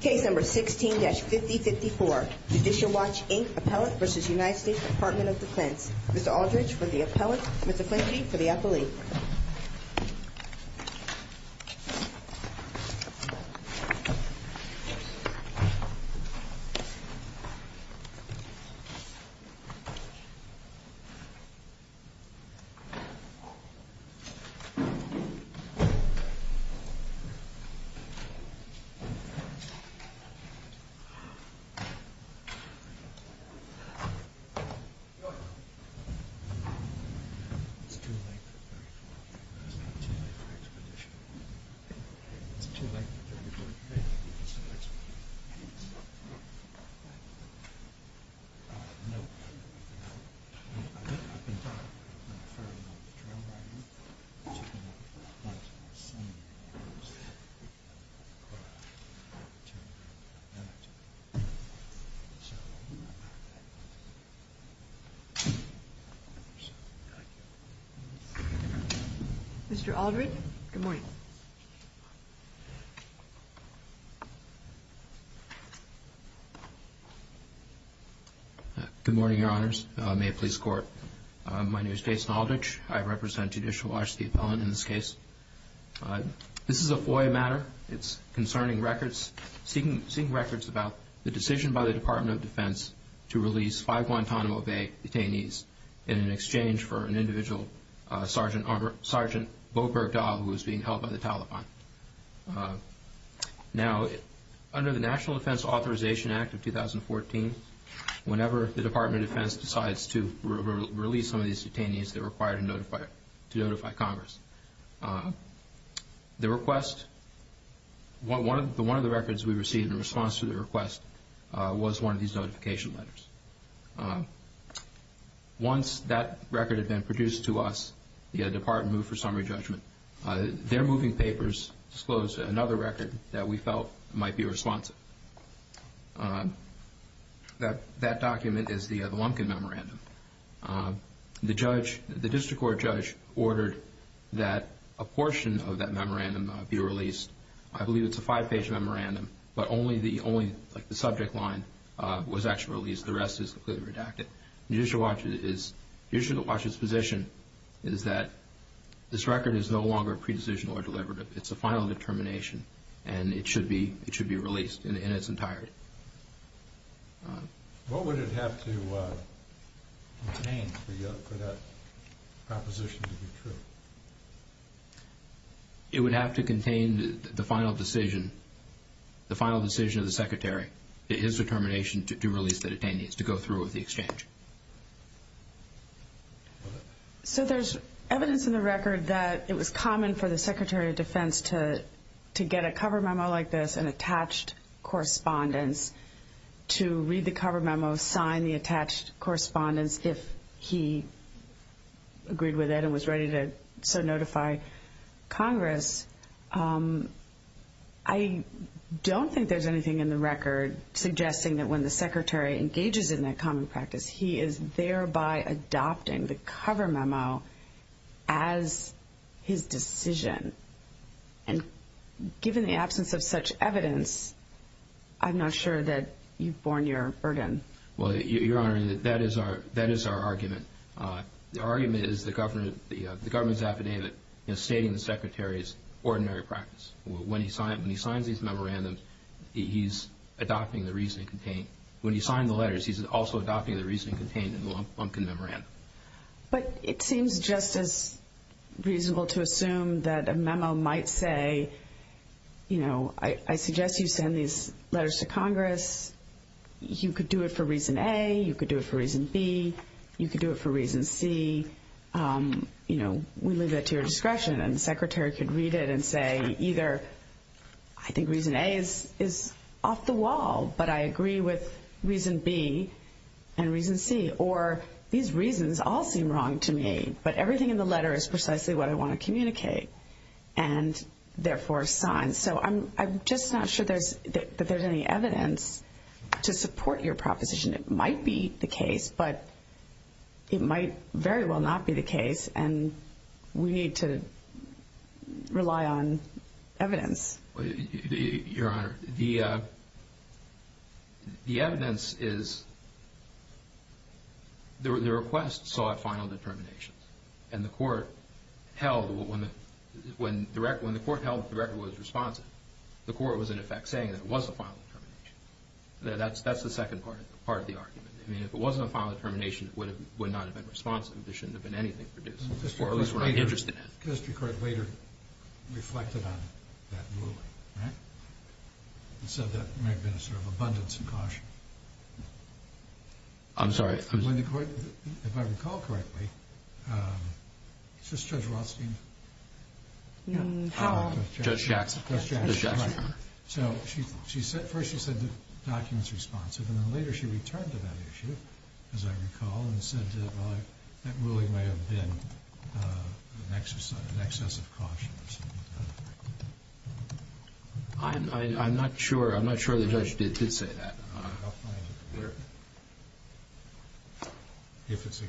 Case No. 16-5054, Judicial Watch, Inc., Appellant v. United States Department of Defense. Mr. Aldridge for the Appellant, Mr. Quincy for the Appellee. It's too late. It's not too late for expedition. It's too late. Mr. Aldridge, good morning. Good morning, Your Honors. May it please the Court. My name is Jason Aldridge. I represent Judicial Watch, the Appellant, in this case. This is a FOIA matter. It's concerning records, seeking records about the decision by the Department of Defense to release five Guantanamo Bay detainees in exchange for an individual, Sergeant Bo Bergdahl, who was being held by the Taliban. Now, under the National Defense Authorization Act of 2014, whenever the Department of Defense decides to release some of these detainees, they're required to notify Congress. One of the records we received in response to the request was one of these notification letters. Once that record had been produced to us, the Department of Defense did not move for summary judgment. Their moving papers disclosed another record that we felt might be responsive. That document is the Lumpkin Memorandum. The district court judge ordered that a portion of that memorandum be released. I believe it's a five-page memorandum, but only the subject line was actually released. The rest is clearly redacted. The Judicial Watch's position is that this record is no longer pre-decision or deliberative. It's a final determination, and it should be released in its entirety. What would it have to contain for that proposition to be true? It would have to contain the final decision of the Secretary, his determination to release the detainees, to go through with the exchange. There's evidence in the record that it was common for the Secretary of Defense to get a cover memo like this, an attached correspondence, to read the cover memo, sign the attached correspondence if he agreed with it and was ready to notify Congress. I don't think there's anything in the record suggesting that when the Secretary engages in that common practice, he is thereby adopting the cover memo as his decision. And given the absence of such evidence, I'm not sure that you've borne your burden. Well, Your Honor, that is our argument. The argument is the government's affidavit stating ordinary practice. When he signs these memorandums, he's adopting the reasoning contained. When he signed the letters, he's also adopting the reasoning contained in the Lumpkin memorandum. But it seems just as reasonable to assume that a memo might say, you know, I suggest you send these letters to Congress. You could do it for reason A. You could do it for reason B. You could do it for reason C. You know, we leave that to your discretion. And the Secretary could read it and say either I think reason A is off the wall, but I agree with reason B and reason C. Or these reasons all seem wrong to me, but everything in the letter is precisely what I want to communicate and therefore sign. So I'm just not sure that there's any evidence to support your proposition. It might be the case, but it might very well not be the case and we need to rely on evidence. Your Honor, the evidence is the request sought final determination. And the court held when the record was responsive, the court was in effect saying that it was a final determination. That's the second part of the argument. I mean, if it wasn't a final determination, it would not have been responsive. There shouldn't have been anything produced. The history court later reflected on that ruling and said that there may have been a sort of abundance of caution. I'm sorry. If I recall correctly, is this Judge Rothstein? Judge Jackson. So first she said the document's responsive, and then later she returned to that issue, as I recall, and said that ruling may have been an excess of caution or something like that. I'm not sure the judge did say that. I'll find it. If it exists.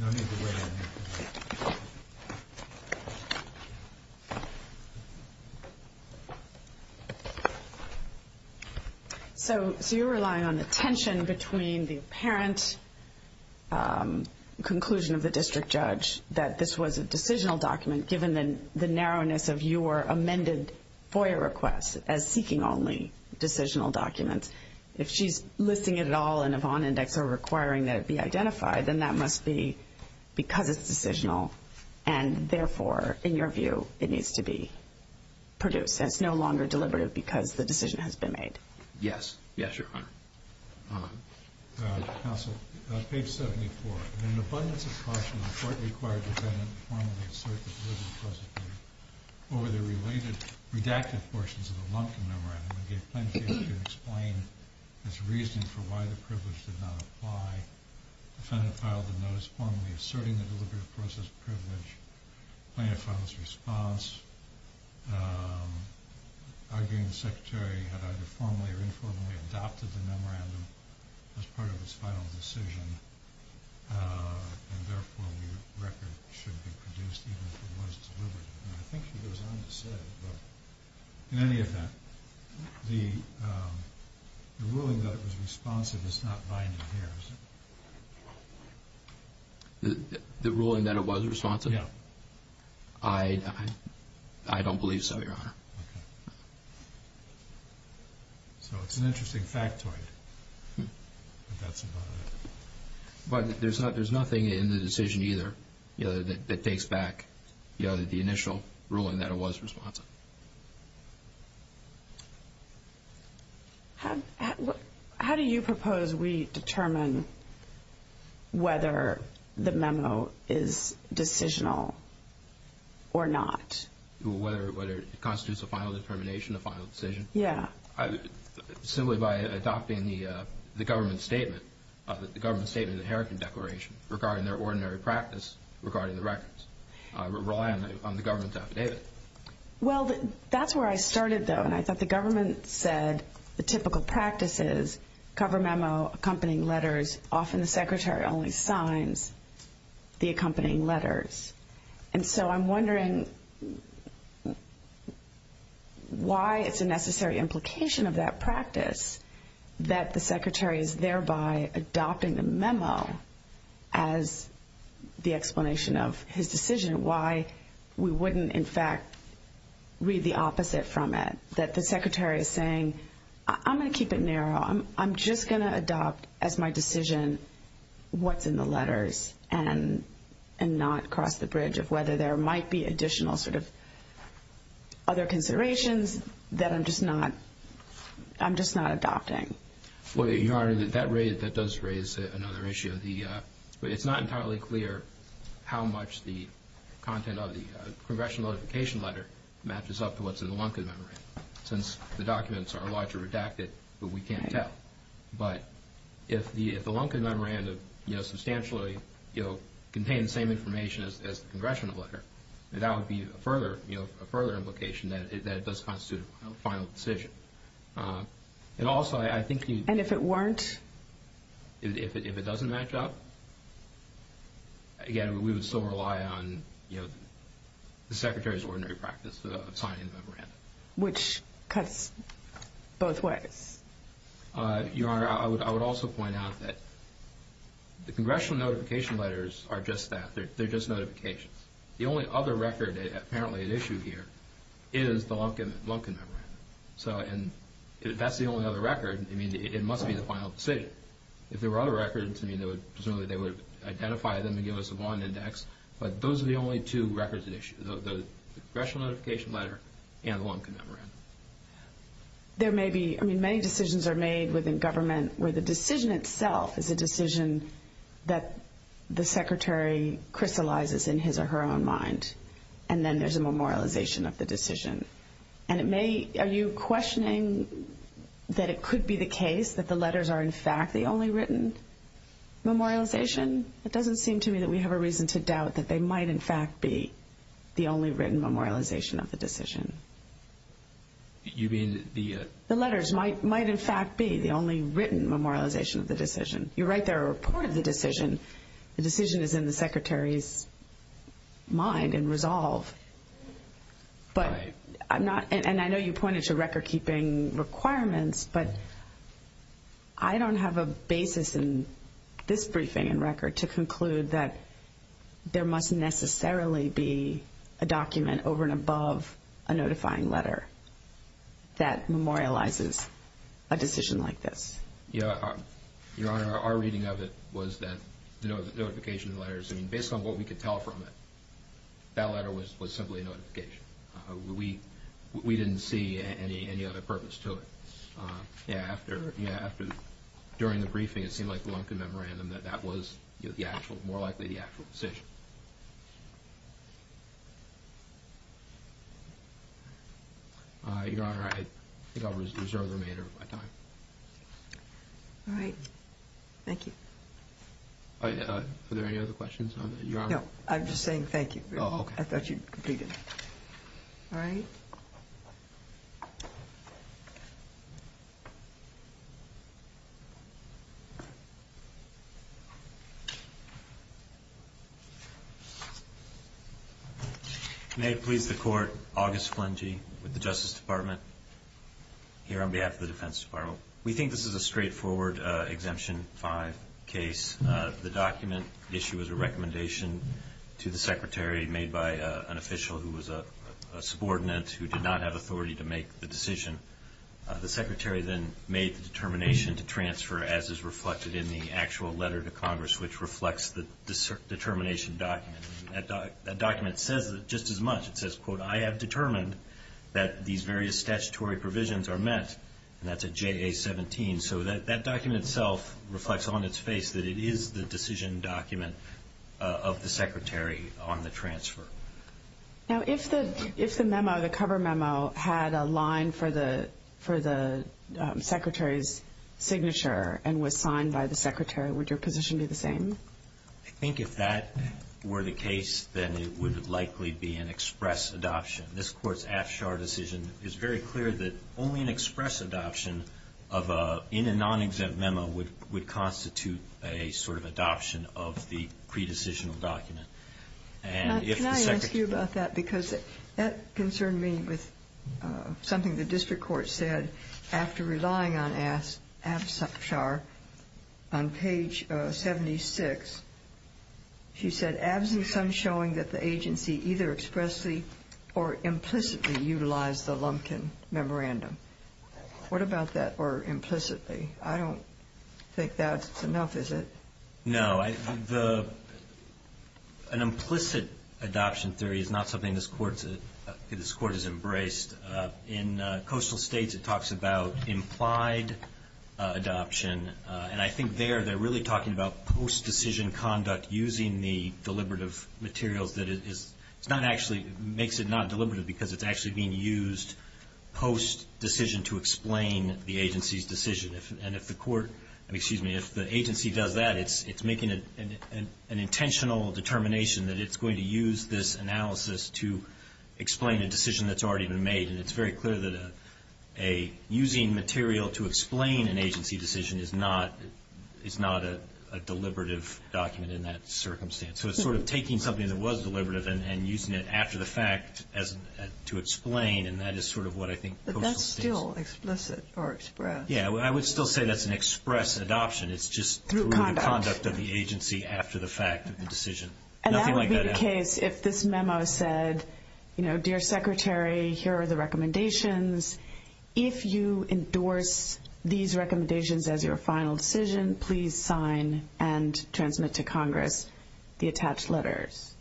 No need to weigh in. So you're relying on the tension between the apparent conclusion of the district judge that this was a decisional document given the narrowness of your amended FOIA request as seeking only decisional documents. If she's listing it at all in a Vaughan index or requiring that it be identified, then that must be because it's decisional, and therefore, in your view, it needs to be produced. It's no longer deliberative because the decision has been made. Yes. Yes, Your Honor. Counsel, page 74. In an abundance of caution, the court required the defendant to formally assert the deliberative process over the related redacted portions of the Lumpkin Memorandum, and gave plenty of time to explain his reasoning for why the privilege did not apply. The defendant filed the notice formally asserting the deliberative process privilege. The plaintiff filed his response, arguing the secretary had either formally or informally adopted the memorandum as part of his final decision, and therefore, the record should be produced even if it was deliberative. And I think she goes on to say, but in any event, the ruling that it was responsive is not binded here, is it? The ruling that it was responsive? Yes. I don't believe so, Your Honor. Okay. So it's an interesting factoid, if that's about it. But there's nothing in the decision either that takes back the initial ruling that it was responsive. How do you propose we determine whether the memo is decisional or not? Whether it constitutes a final determination, a final decision? Yeah. Simply by adopting the government statement, the government statement of the Heritage Declaration, regarding their ordinary practice regarding the records, relying on the government affidavit. Well, that's where I started, though, and I thought the government said the typical practice is cover memo, accompanying letters. Often the secretary only signs the accompanying letters. And so I'm wondering why it's a necessary implication of that practice that the secretary is thereby adopting the memo as the explanation of his decision and why we wouldn't, in fact, read the opposite from it, that the secretary is saying, I'm going to keep it narrow. I'm just going to adopt as my decision what's in the letters and not cross the bridge of whether there might be additional sort of other considerations that I'm just not adopting. Well, Your Honor, that does raise another issue. It's not entirely clear how much the content of the congressional notification letter matches up to what's in the Lunkin Memorandum, since the documents are largely redacted, but we can't tell. But if the Lunkin Memorandum substantially contains the same information as the congressional letter, that would be a further implication that it does constitute a final decision. And also, I think you'd— And if it weren't? If it doesn't match up, again, we would still rely on, you know, the secretary's ordinary practice of signing the memorandum. Which cuts both ways. Your Honor, I would also point out that the congressional notification letters are just that. They're just notifications. The only other record apparently at issue here is the Lunkin Memorandum. If that's the only other record, it must be the final decision. If there were other records, presumably they would identify them and give us a bond index, but those are the only two records at issue, the congressional notification letter and the Lunkin Memorandum. There may be—I mean, many decisions are made within government where the decision itself is a decision that the secretary crystallizes in his or her own mind, and then there's a memorialization of the decision. And it may—are you questioning that it could be the case that the letters are, in fact, the only written memorialization? It doesn't seem to me that we have a reason to doubt that they might, in fact, be the only written memorialization of the decision. You mean the— The letters might, in fact, be the only written memorialization of the decision. You write their report of the decision. The decision is in the secretary's mind and resolve. But I'm not—and I know you pointed to record-keeping requirements, but I don't have a basis in this briefing and record to conclude that there must necessarily be a document over and above a notifying letter that memorializes a decision like this. Yeah, Your Honor, our reading of it was that the notification of the letters, I mean, based on what we could tell from it, that letter was simply a notification. We didn't see any other purpose to it. Yeah, after—during the briefing, it seemed like the Lunkin memorandum that that was the actual, more likely the actual decision. Your Honor, I think I'll reserve the remainder of my time. All right. Thank you. Are there any other questions, Your Honor? No, I'm just saying thank you. Oh, okay. I thought you'd completed it. All right. May it please the Court, August Flangey with the Justice Department, here on behalf of the Defense Department. We think this is a straightforward Exemption 5 case. The document issue is a recommendation to the Secretary made by an official who was a subordinate who did not have authority to make the decision. The Secretary then made the determination to transfer as is reflected in the actual letter to Congress, which reflects the determination document. It says, quote, that these various statutory provisions are met, and that's a JA-17. So that document itself reflects on its face that it is the decision document of the Secretary on the transfer. Now, if the memo, the cover memo, had a line for the Secretary's signature and was signed by the Secretary, would your position be the same? I think if that were the case, then it would likely be an express adoption. This Court's Afshar decision is very clear that only an express adoption in a non-exempt memo would constitute a sort of adoption of the pre-decisional document. Can I ask you about that? Because that concerned me with something the district court said after relying on Afshar on page 76. She said, absent some showing that the agency either expressly or implicitly utilized the Lumpkin memorandum. What about that, or implicitly? I don't think that's enough, is it? No. An implicit adoption theory is not something this Court has embraced. In Coastal States, it talks about implied adoption. And I think there, they're really talking about post-decision conduct using the deliberative materials that is not actually, makes it not deliberative because it's actually being used post-decision to explain the agency's decision. And if the court, excuse me, if the agency does that, it's making an intentional determination that it's going to use this analysis to explain a decision that's already been made. And it's very clear that using material to explain an agency decision is not a deliberative document in that circumstance. So it's sort of taking something that was deliberative and using it after the fact to explain, and that is sort of what I think Coastal States. But that's still explicit or express. Yeah, I would still say that's an express adoption. It's just through the conduct of the agency after the fact of the decision. And that would be the case if this memo said, you know, dear Secretary, here are the recommendations. If you endorse these recommendations as your final decision, please sign and transmit to Congress the attached letters.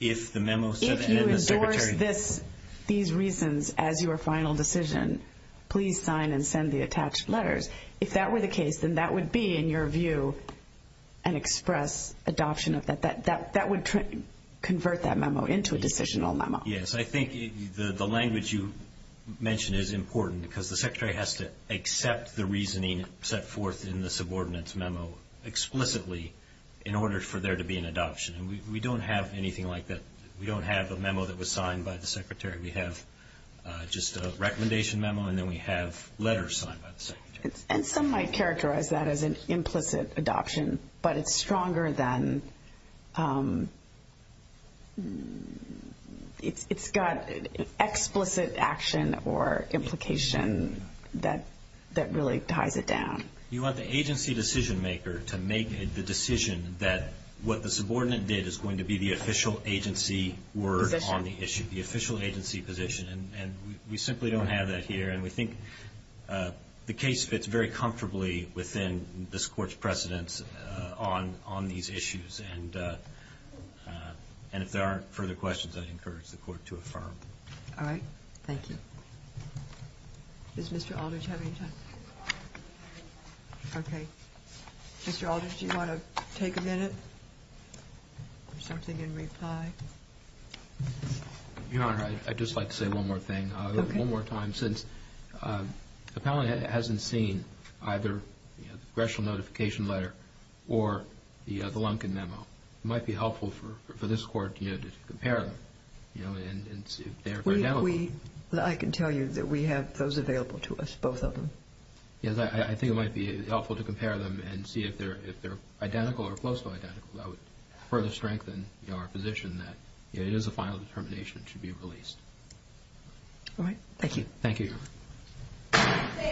If the memo said, and then the Secretary. If you endorse these reasons as your final decision, please sign and send the attached letters. If that were the case, then that would be, in your view, an express adoption of that. That would convert that memo into a decisional memo. Yes, I think the language you mentioned is important because the Secretary has to accept the reasoning set forth in the subordinates' memo explicitly in order for there to be an adoption. And we don't have anything like that. We don't have a memo that was signed by the Secretary. We have just a recommendation memo, and then we have letters signed by the Secretary. And some might characterize that as an implicit adoption, but it's stronger than it's got explicit action or implication that really ties it down. You want the agency decision maker to make the decision that what the subordinate did is going to be the official agency word on the issue. The official agency position. And we simply don't have that here. And we think the case fits very comfortably within this Court's precedence on these issues. And if there aren't further questions, I'd encourage the Court to affirm. All right. Thank you. Does Mr. Aldrich have any time? Okay. Mr. Aldrich, do you want to take a minute or something in reply? Your Honor, I'd just like to say one more thing. Okay. One more time. Since the panel hasn't seen either the congressional notification letter or the Lunkin memo, it might be helpful for this Court to compare them and see if they're identical. I can tell you that we have those available to us, both of them. Yes, I think it might be helpful to compare them and see if they're identical or close to identical. I would further strengthen our position that it is a final determination that should be released. All right. Thank you. Thank you, Your Honor.